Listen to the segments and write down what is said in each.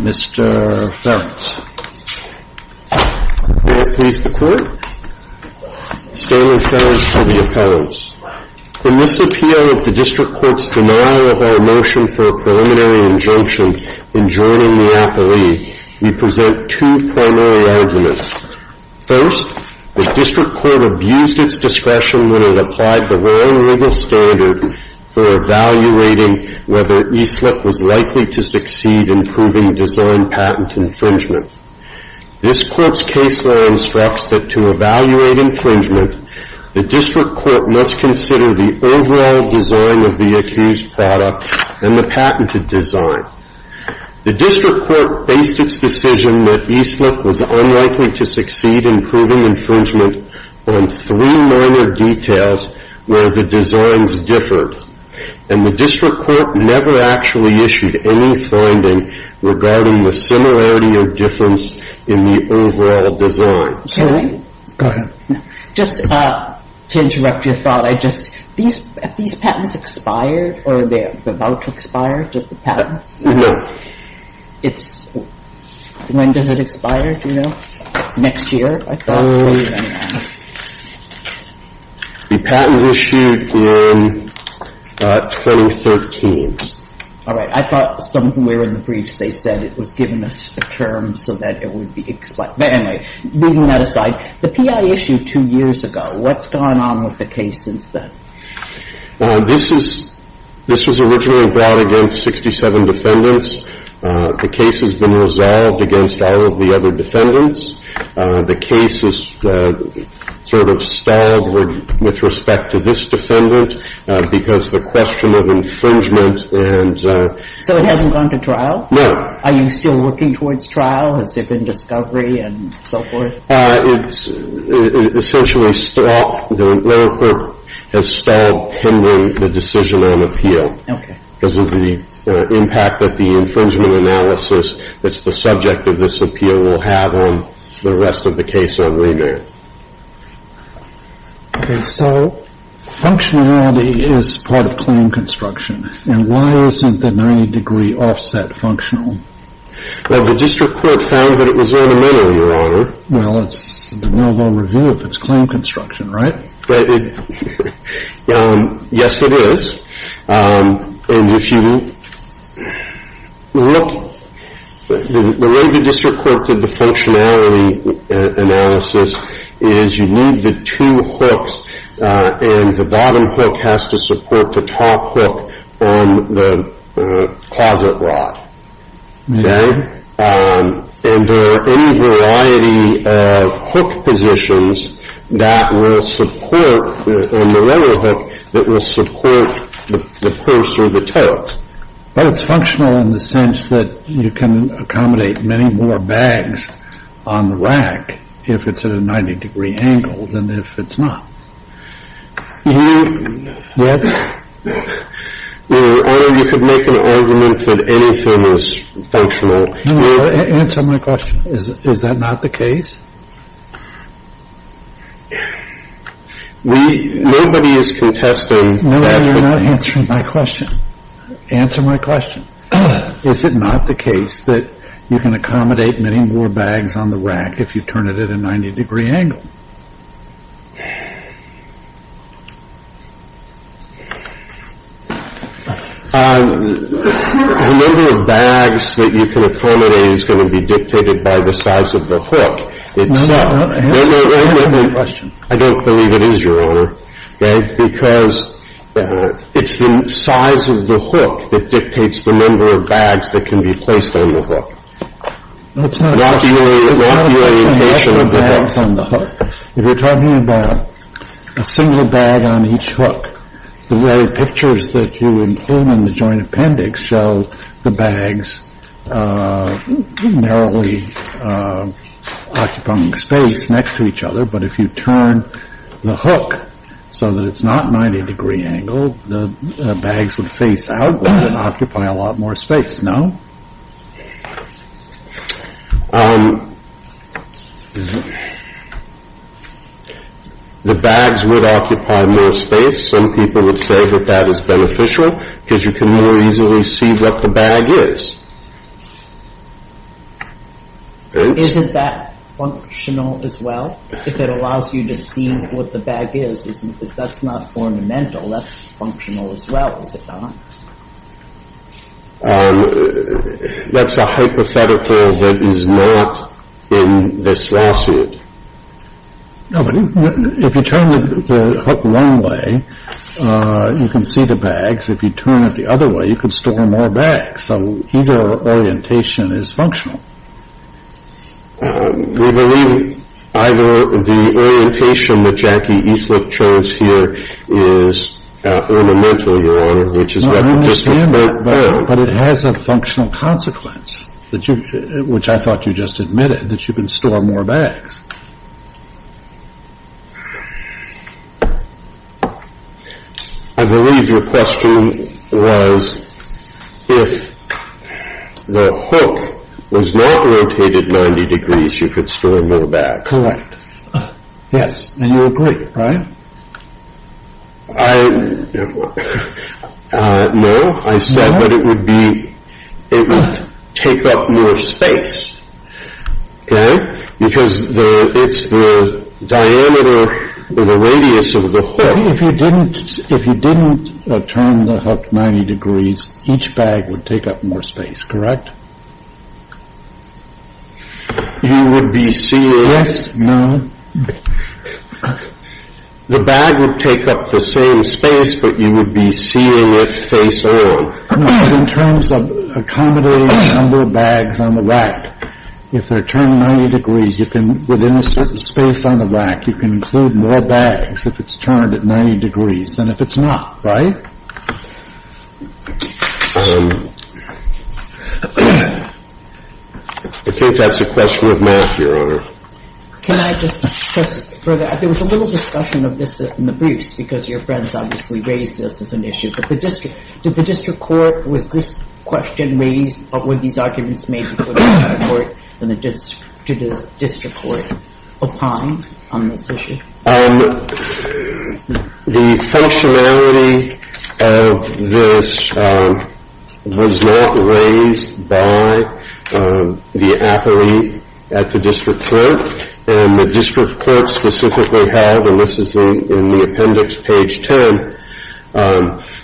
Mr. Ferencz. May it please the court. Stanley Ferencz for the appellants. In this appeal of the District Court's denial of our motion for a preliminary injunction in joining the appellee, we present two primary arguments. First, the District Court abused its discretion when it applied the wrong legal standard for evaluating whether Easlick was likely to succeed in proving design patent infringement. This Court's case law instructs that to evaluate infringement, the District Court must consider the overall design of the accused product and the patented design. The District Court based its decision that Easlick was unlikely to succeed in proving infringement on three minor details where the designs differed. And the District Court never actually issued any finding regarding the similarity or difference in the overall design. Mr. Easlick, I'm sorry to interrupt your thought. Have these patents expired or are they about to expire? No. When does it expire, do you know? Next year? The patent was issued in 2013. All right. I thought somewhere in the briefs they said it was given a term so that it would expire. But anyway, leaving that aside, the P.I. issued two years ago. What's gone on with the case since then? This is originally brought against 67 defendants. The case has been resolved against all of the other defendants. The case is sort of stalled with respect to this defendant because the question of infringement and so it hasn't gone to trial. No. Are you still working towards trial? Has there been discovery and so forth? It's essentially stalled. The medical has stalled pending the decision on appeal. Okay. Because of the impact that the infringement analysis that's the subject of this appeal will have on the rest of the case on remand. Okay. So functionality is part of claim construction. And why isn't the 90 degree offset functional? Well, the district court found that it was ornamental, Your Honor. Well, it's a no-go review if it's claim construction, right? Yes, it is. And if you look, the way the district court did the functionality analysis is you need the two hooks and the bottom hook has to support the top hook on the closet rod. Okay? And there are any variety of hook positions that will support on the leather hook that will support the purse or the tote. But it's functional in the sense that you can accommodate many more bags on the rack if it's at a 90 degree angle than if it's not. Your Honor, you could make an argument that anything is functional. Answer my question. Is that not the case? Nobody is contesting that. No, you're not answering my question. Answer my question. Is it not the case that you can accommodate many more bags on the rack if you turn it at a 90 degree angle? The number of bags that you can accommodate is going to be dictated by the size of the hook itself. Answer my question. I don't believe it is, Your Honor. Because it's the size of the hook that dictates the number of bags that can be placed on the hook. It's not a question of the number of bags on the hook. If you're talking about a single bag on each hook, the way pictures that you include in the joint appendix show the bags narrowly occupying space next to each other. But if you turn the hook so that it's not 90 degree angle, the bags would face outward and occupy a lot more space, no? The bags would occupy more space. Some people would say that that is beneficial because you can more easily see what the bag is. Isn't that functional as well, if it allows you to see what the bag is? That's not ornamental. That's functional as well, is it not? That's a hypothetical that is not in this lawsuit. No, but if you turn the hook one way, you can see the bags. If you turn it the other way, you can store more bags. So either orientation is functional. We believe either the orientation that Jackie Eastwood chose here is ornamental, Your Honor, which is a hypothetical. No, I understand that, but it has a functional consequence, which I thought you just admitted, that you can store more bags. I believe your question was, if the hook was not rotated 90 degrees, you could store more bags. Correct. Yes, and you agree, right? No, I said that it would take up more space. Okay, because it's the diameter of the radius of the hook. If you didn't turn the hook 90 degrees, each bag would take up more space, correct? You would be seeing... Yes, no. The bag would take up the same space, but you would be seeing it face on. In terms of accommodating the number of bags on the rack, if they're turned 90 degrees, you can, within a certain space on the rack, you can include more bags if it's turned at 90 degrees than if it's not, right? I think that's a question of math, Your Honor. Can I just press it further? There was a little discussion of this in the briefs, because your friends obviously raised this as an issue. Did the district court, was this question raised, or were these arguments made before the district court upon this issue? The functionality of this was not raised by the appellee at the district court, and the district court specifically held, and this is in the appendix, page 10.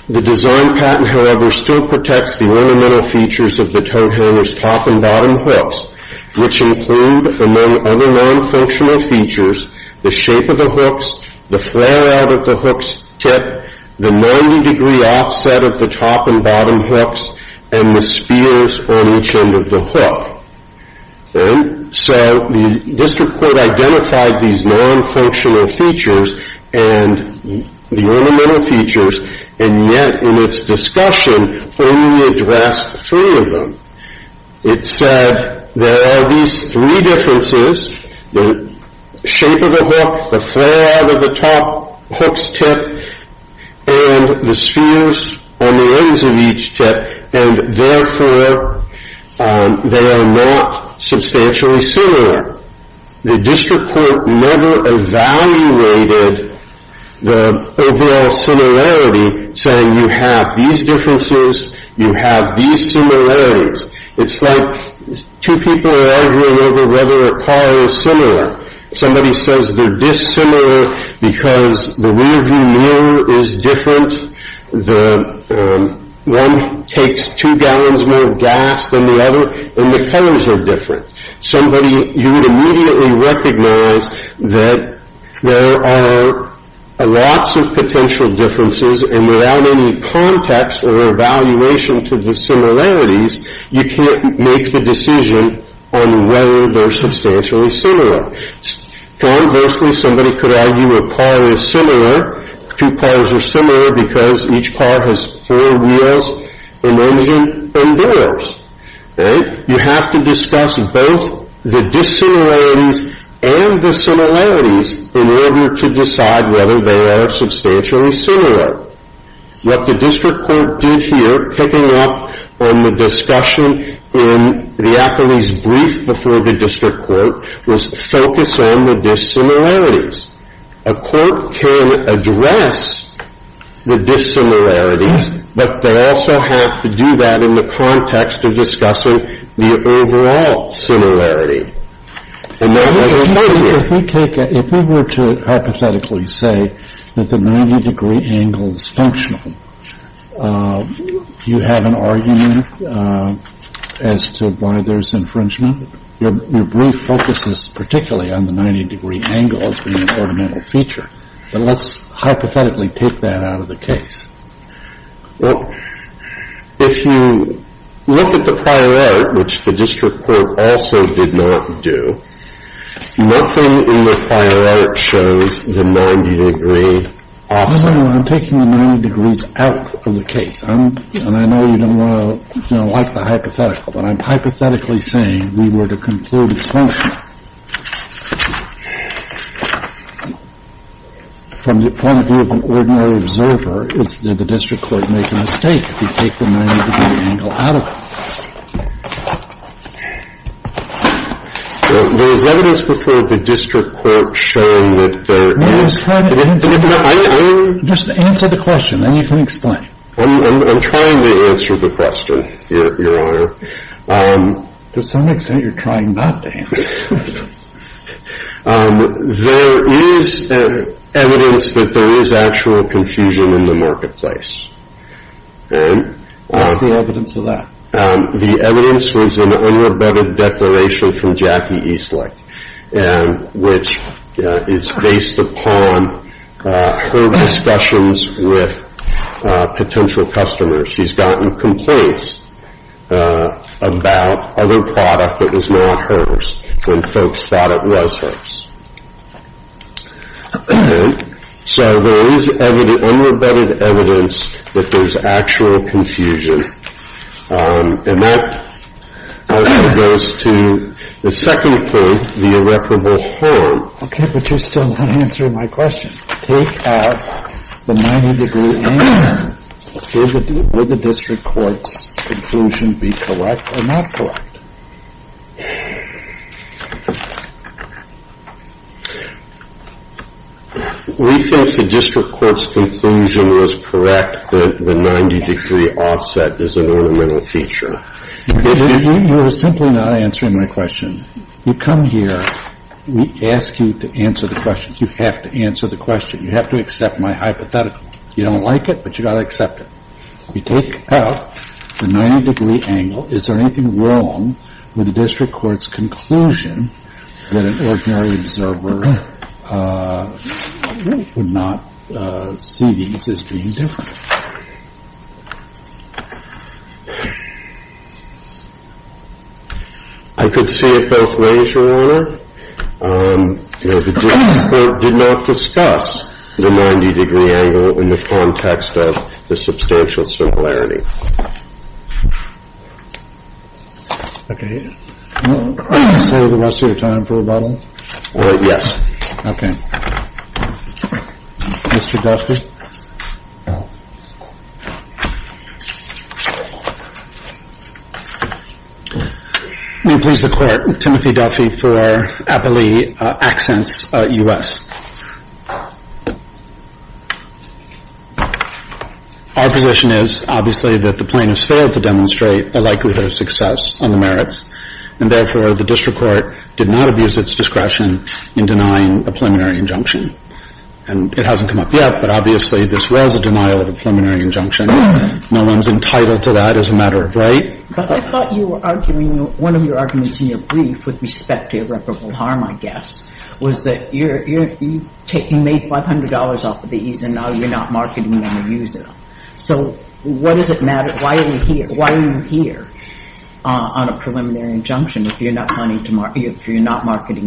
The design patent, however, still protects the ornamental features of the tow hanger's top and bottom hooks, which include, among other non-functional features, the shape of the hooks, the flare-out of the hook's tip, the 90-degree offset of the top and bottom hooks, and the spears on each end of the hook. So the district court identified these non-functional features and the ornamental features, and yet in its discussion only addressed three of them. It said there are these three differences, the shape of the hook, the flare-out of the top hook's tip, and the spears on the ends of each tip, and therefore they are not substantially similar. The district court never evaluated the overall similarity, saying you have these differences, you have these similarities. It's like two people are arguing over whether a car is similar. Somebody says they're dissimilar because the rear-view mirror is different. One takes two gallons more gas than the other, and the colors are different. Somebody, you would immediately recognize that there are lots of potential differences, and without any context or evaluation to the similarities, you can't make the decision on whether they're substantially similar. Conversely, somebody could argue a car is similar. Two cars are similar because each car has four wheels, an engine, and mirrors. You have to discuss both the dissimilarities and the similarities in order to decide whether they are substantially similar. What the district court did here, picking up on the discussion in the appellee's brief before the district court, was focus on the dissimilarities. A court can address the dissimilarities, but they also have to do that in the context of discussing the overall similarity. If we were to hypothetically say that the 90-degree angle is functional, you have an argument as to why there's infringement? Your brief focuses particularly on the 90-degree angle as being an ornamental feature, but let's hypothetically take that out of the case. Well, if you look at the prior art, which the district court also did not do, nothing in the prior art shows the 90-degree offset. No, no, no. I'm taking the 90 degrees out of the case. And I know you don't want to, you know, like the hypothetical, but I'm hypothetically saying we were to conclude it's functional. From the point of view of an ordinary observer, did the district court make a mistake to take the 90-degree angle out of it? There is evidence before the district court showing that there is. Just answer the question, then you can explain. I'm trying to answer the question, Your Honor. To some extent you're trying not to answer. There is evidence that there is actual confusion in the marketplace. What's the evidence of that? The evidence was an unrebutted declaration from Jackie Eastlake, which is based upon her discussions with potential customers. She's gotten complaints about other product that was not hers when folks thought it was hers. So there is unrebutted evidence that there's actual confusion. And that also goes to the second point, the irreparable harm. Okay, but you're still not answering my question. Take out the 90-degree angle. Would the district court's conclusion be correct or not correct? We think the district court's conclusion was correct, that the 90-degree offset is an ornamental feature. You are simply not answering my question. You come here. We ask you to answer the questions. You have to answer the question. You have to accept my hypothetical. You don't like it, but you've got to accept it. We take out the 90-degree angle. Is there anything wrong with the district court's conclusion that an ordinary observer would not see these as being different? I could see it both ways, Your Honor. The district court did not discuss the 90-degree angle in the context of the substantial similarity. So the rest of your time for rebuttal? Yes. Okay. Mr. Duffey? May it please the Court. Timothy Duffey for Appalachian Accents, U.S. Our position is, obviously, that the plaintiffs failed to demonstrate a likelihood of success on the merits, and therefore the district court did not abuse its discretion in denying a preliminary injunction. And it hasn't come up yet, but obviously this was a denial of a preliminary injunction. No one's entitled to that as a matter of right. But I thought you were arguing one of your arguments in your brief with respect to irreparable harm, I guess, was that you made $500 off of these, and now you're not marketing them or using them. So what does it matter? Why are you here on a preliminary injunction if you're not marketing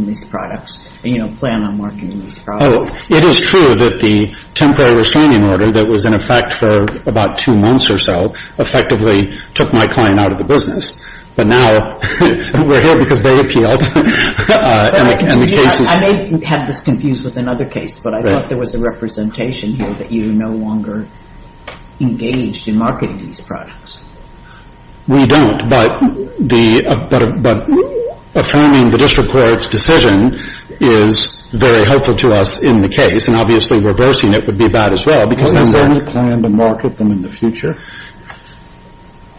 these products, and you don't plan on marketing these products? It is true that the temporary restraining order that was in effect for about two months or so effectively took my client out of the business. But now we're here because they appealed. I may have this confused with another case, but I thought there was a representation here that you're no longer engaged in marketing these products. We don't, but affirming the district court's decision is very helpful to us in the case, and obviously reversing it would be bad as well because then we're going to market them in the future.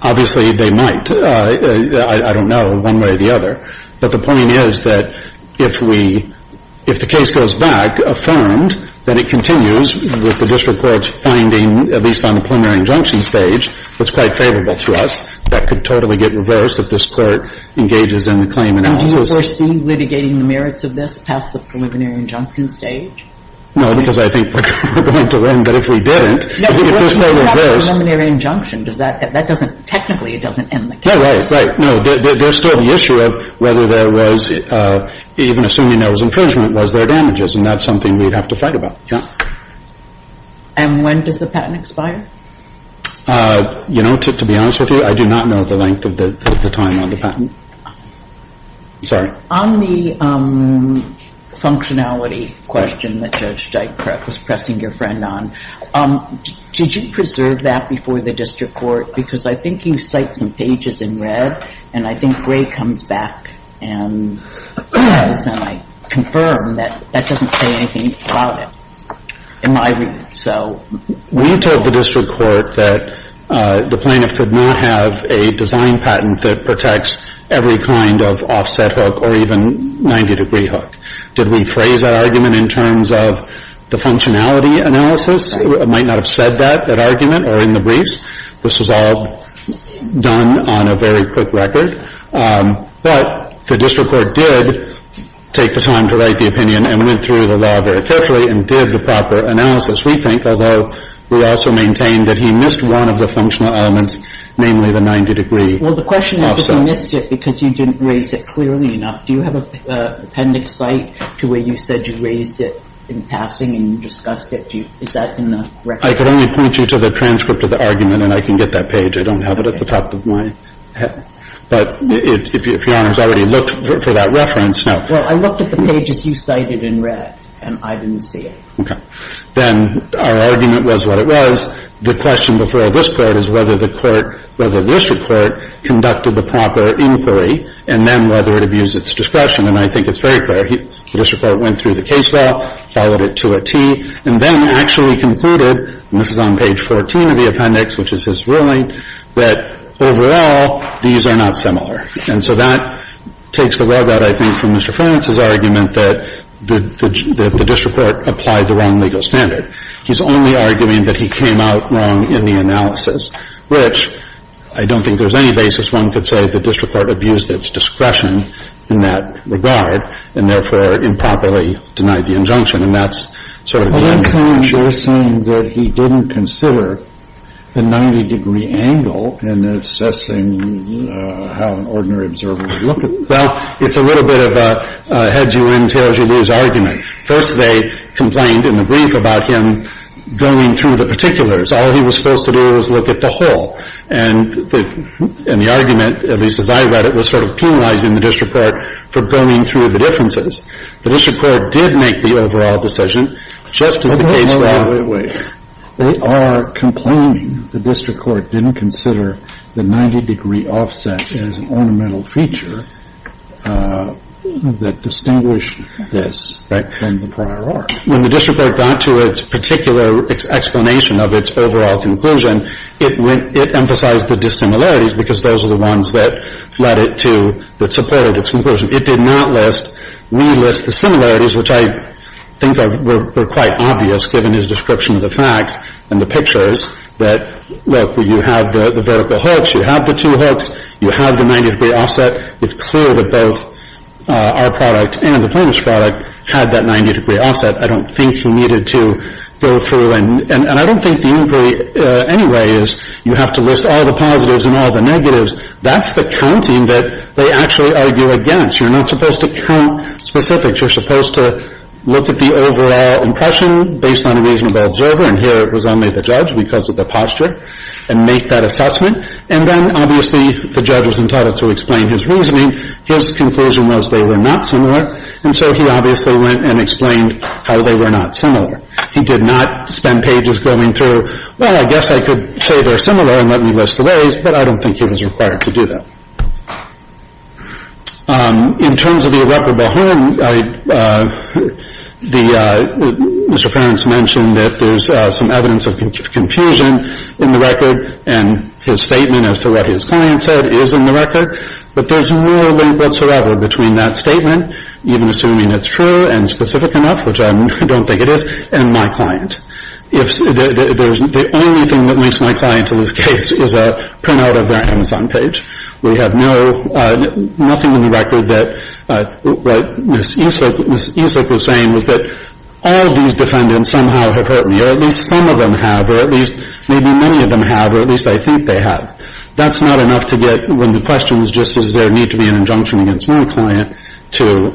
Obviously they might. I don't know one way or the other. But the point is that if we – if the case goes back, affirmed, then it continues with the district court's finding, at least on the preliminary injunction stage, it's quite favorable to us. That could totally get reversed if this Court engages in the claim analysis. Do you foresee litigating the merits of this past the preliminary injunction stage? No, because I think we're going to win. But if we didn't, if this were reversed – No, but if it's not a preliminary injunction, does that – that doesn't – technically it doesn't end the case. No, right, right. No, there's still the issue of whether there was – even assuming there was infringement, was there damages? And that's something we'd have to fight about, yeah. And when does the patent expire? You know, to be honest with you, I do not know the length of the time on the patent. Sorry. On the functionality question that Judge Dykstra was pressing your friend on, did you preserve that before the district court? Because I think you cite some pages in red, and I think Gray comes back and says, and I confirm that that doesn't say anything about it in my reading, so. We told the district court that the plaintiff could not have a design patent that protects every kind of offset hook or even 90-degree hook. Did we phrase that argument in terms of the functionality analysis? It might not have said that, that argument, or in the briefs. This was all done on a very quick record. But the district court did take the time to write the opinion and went through the law very carefully and did the proper analysis, we think, although we also maintain that he missed one of the functional elements, namely the 90-degree. Well, the question is that he missed it because you didn't raise it clearly enough. Do you have an appendix cite to where you said you raised it in passing and you discussed it? Is that in the record? I can only point you to the transcript of the argument, and I can get that page. I don't have it at the top of my head. But if Your Honor has already looked for that reference, no. Well, I looked at the pages you cited in red, and I didn't see it. Okay. Then our argument was what it was. The question before this Court is whether the court, whether the district court conducted the proper inquiry, and then whether it abused its discretion. And I think it's very clear. The district court went through the case file, followed it to a T, and then actually concluded, and this is on page 14 of the appendix, which is his ruling, that overall these are not similar. And so that takes the rub out, I think, from Mr. Ferentz's argument that the district court applied the wrong legal standard. He's only arguing that he came out wrong in the analysis, which I don't think there's any basis one could say the district court abused its discretion in that regard, and therefore improperly denied the injunction. And that's sort of the end of the story. Well, then you're saying that he didn't consider the 90-degree angle in assessing how an ordinary observer would look at it. Well, it's a little bit of a head you in, tails you lose argument. First, they complained in the brief about him going through the particulars. All he was supposed to do was look at the whole. And the argument, at least as I read it, was sort of penalizing the district court for going through the differences. The district court did make the overall decision, just as the case was. But wait, wait, wait, wait. They are complaining the district court didn't consider the 90-degree offset as an ornamental feature that distinguished this from the prior art. When the district court got to its particular explanation of its overall conclusion, it emphasized the dissimilarities because those are the ones that led it to, that conclusion. It did not list. We list the similarities, which I think were quite obvious, given his description of the facts and the pictures, that, look, you have the vertical hooks. You have the two hooks. You have the 90-degree offset. It's clear that both our product and the plaintiff's product had that 90-degree offset. I don't think he needed to go through. And I don't think the inquiry anyway is you have to list all the positives and all the negatives. That's the counting that they actually argue against. You're not supposed to count specifics. You're supposed to look at the overall impression based on a reasonable observer, and here it was only the judge because of the posture, and make that assessment. And then, obviously, the judge was entitled to explain his reasoning. His conclusion was they were not similar. And so he obviously went and explained how they were not similar. He did not spend pages going through, well, I guess I could say they're similar and let me list the ways, but I don't think he was required to do that. In terms of the irreparable harm, Mr. Farrance mentioned that there's some evidence of confusion in the record, and his statement as to what his client said is in the record, but there's no link whatsoever between that statement, even assuming it's true and specific enough, which I don't think it is, and my client. The only thing that links my client to this case is a printout of their Amazon page. We have nothing in the record that what Ms. Esick was saying was that all of these defendants somehow have hurt me, or at least some of them have, or at least maybe many of them have, or at least I think they have. That's not enough to get when the question is just does there need to be an injunction against my client to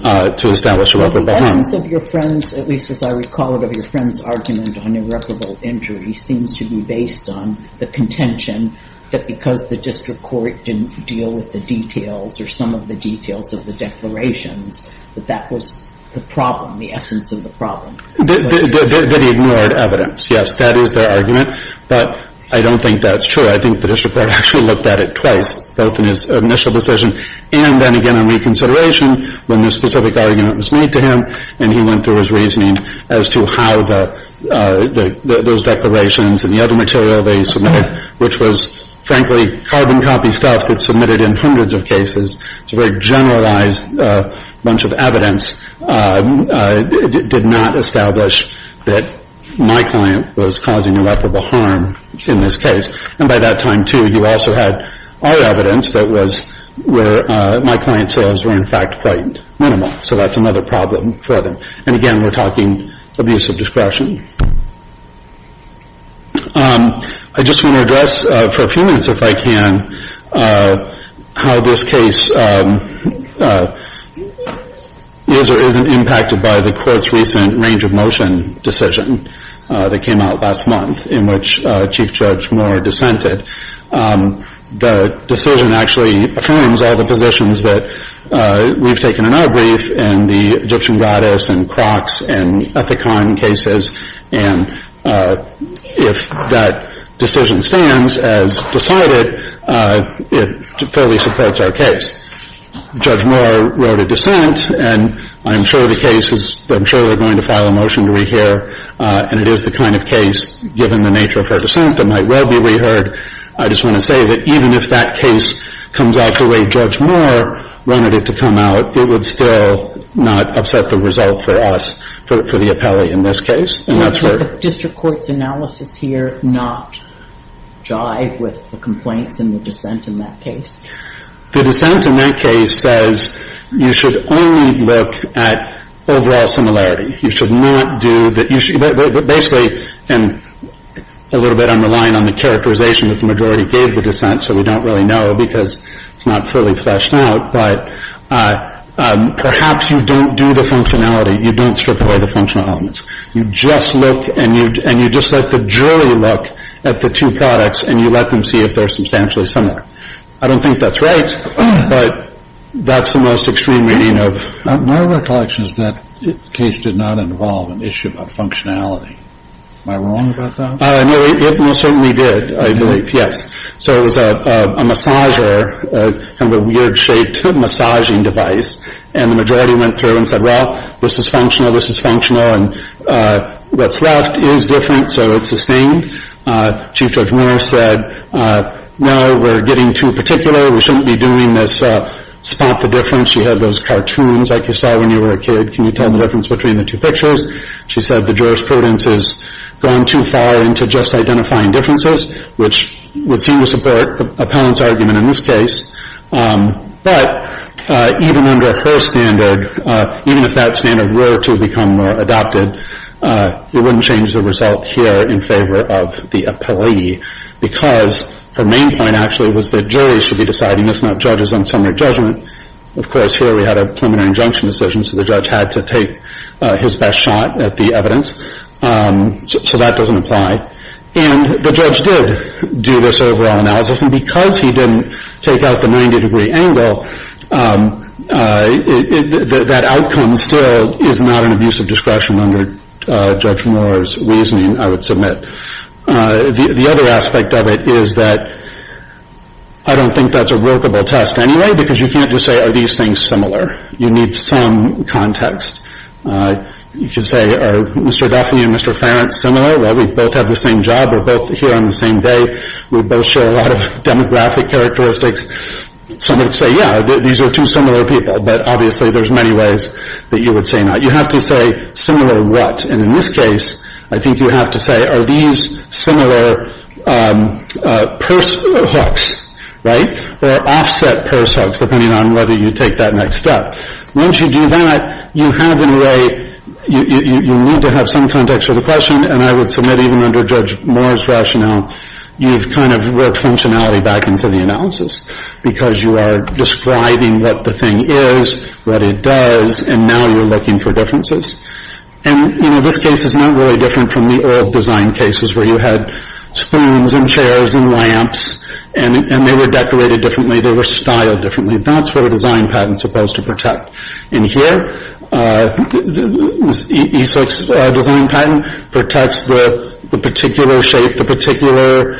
establish irreparable harm. The essence of your friend's, at least as I recall it, of your friend's argument on irreparable injury seems to be based on the contention that because the district court didn't deal with the details or some of the details of the declarations, that that was the problem, the essence of the problem. That he ignored evidence. Yes, that is their argument, but I don't think that's true. I think the district court actually looked at it twice, both in his initial decision and then again in reconsideration when the specific argument was made to him, and he went through his reasoning as to how those declarations and the other material they submitted, which was frankly carbon copy stuff that's submitted in hundreds of cases. It's a very generalized bunch of evidence. It did not establish that my client was causing irreparable harm in this case. And by that time, too, you also had our evidence that was where my client's sales were in fact quite minimal. So that's another problem for them. And again, we're talking abuse of discretion. I just want to address for a few minutes, if I can, how this case is or isn't impacted by the court's recent range of motion decision that came out last month, in which Chief Judge Moore dissented. The decision actually affirms all the positions that we've taken in our brief in the Egyptian goddess and Crocs and Ethicon cases, and if that decision stands as decided, it fairly supports our case. Judge Moore wrote a dissent, and I'm sure the case is going to file a motion to rehear, and it is the kind of case, given the nature of her dissent, that might well be reheard. I just want to say that even if that case comes out the way Judge Moore wanted it to come out, it would still not upset the result for us, for the appellee in this case. And that's where the district court's analysis here not jive with the complaints and the dissent in that case? The dissent in that case says you should only look at overall similarity. You should not do that. Basically, and a little bit I'm relying on the characterization that the majority gave the dissent, so we don't really know because it's not fully fleshed out, but perhaps you don't do the functionality. You don't strip away the functional elements. You just look and you just let the jury look at the two products and you let them see if they're substantially similar. I don't think that's right, but that's the most extreme meaning of. My recollection is that the case did not involve an issue about functionality. Am I wrong about that? No, it most certainly did, I believe, yes. So it was a massager, kind of a weird-shaped massaging device, and the majority went through and said, well, this is functional, this is functional, and what's left is different, so it's sustained. Chief Judge Moore said, no, we're getting too particular. We shouldn't be doing this spot the difference. She had those cartoons like you saw when you were a kid. Can you tell the difference between the two pictures? She said the jurisprudence has gone too far into just identifying differences, which would seem to support the appellant's argument in this case, but even under her standard, even if that standard were to become adopted, it wouldn't change the result here in favor of the appellee because her main point actually was that juries should be deciding, if not judges, on summary judgment. Of course, here we had a preliminary injunction decision, so the judge had to take his best shot at the evidence, so that doesn't apply. And the judge did do this overall analysis, and because he didn't take out the 90-degree angle, that outcome still is not an abuse of discretion under Judge Moore's reasoning, I would submit. The other aspect of it is that I don't think that's a workable test anyway because you can't just say, are these things similar? You need some context. You could say, are Mr. Duffley and Mr. Farrant similar? We both have the same job. We're both here on the same day. We both share a lot of demographic characteristics. Some would say, yeah, these are two similar people, but obviously there's many ways that you would say not. You have to say, similar what? And in this case, I think you have to say, are these similar purse hooks, right, or offset purse hooks, depending on whether you take that next step. Once you do that, you have in a way, you need to have some context for the question, and I would submit even under Judge Moore's rationale, you've kind of worked functionality back into the analysis because you are describing what the thing is, what it does, and now you're looking for differences. And, you know, this case is not really different from the old design cases where you had spoons and chairs and lamps, and they were decorated differently, they were styled differently. That's what a design patent is supposed to protect. And here, EASIC's design patent protects the particular shape, the particular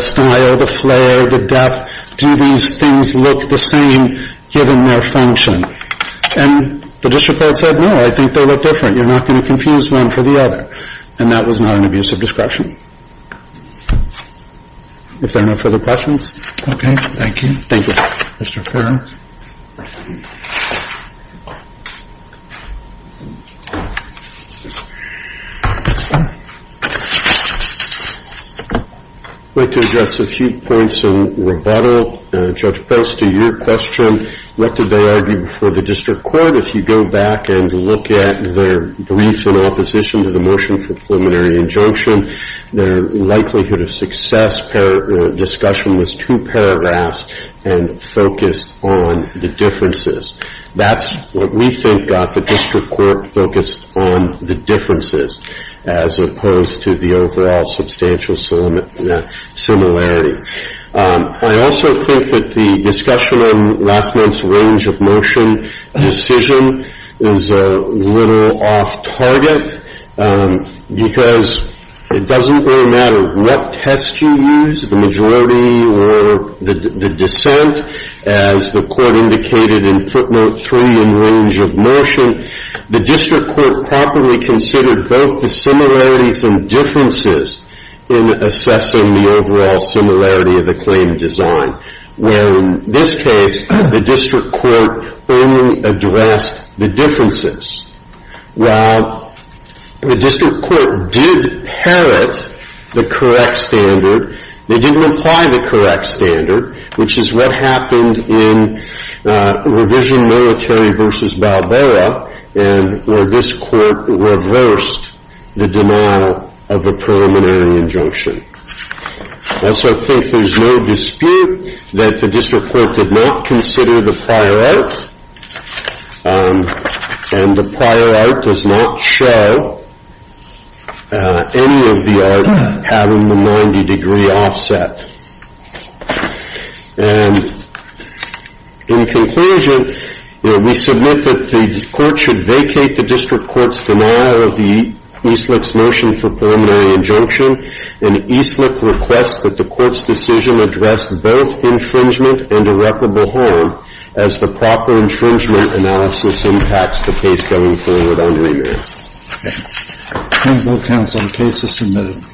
style, the flair, the depth. Do these things look the same given their function? And the district court said, no, I think they look different. You're not going to confuse one for the other. And that was not an abuse of discretion. If there are no further questions. Okay. Thank you. Thank you. Mr. Ferrell. I'd like to address a few points of rebuttal. Judge Post, to your question, what did they argue before the district court? If you go back and look at their brief in opposition to the motion for preliminary injunction, their likelihood of success discussion was too paravast and focused on the differences. That's what we think got the district court focused on the differences as opposed to the overall substantial similarity. I also think that the discussion on last month's range of motion decision is a little off target because it doesn't really matter what test you use, the majority or the dissent, as the court indicated in footnote three in range of motion. The district court properly considered both the similarities and differences in assessing the overall similarity of the claim design, where in this case the district court only addressed the differences. While the district court did parrot the correct standard, they didn't apply the correct standard, which is what happened in revision military versus Balboa, where this court reversed the denial of the preliminary injunction. I also think there's no dispute that the district court did not consider the prior art, and the prior art does not show any of the art having the 90 degree offset. And in conclusion, we submit that the court should vacate the district court's denial of the Eastlick's motion for preliminary injunction, and Eastlick requests that the court's decision address both infringement and irreparable harm as the proper infringement analysis impacts the case going forward on remand. Thank you both counsel. The case is submitted.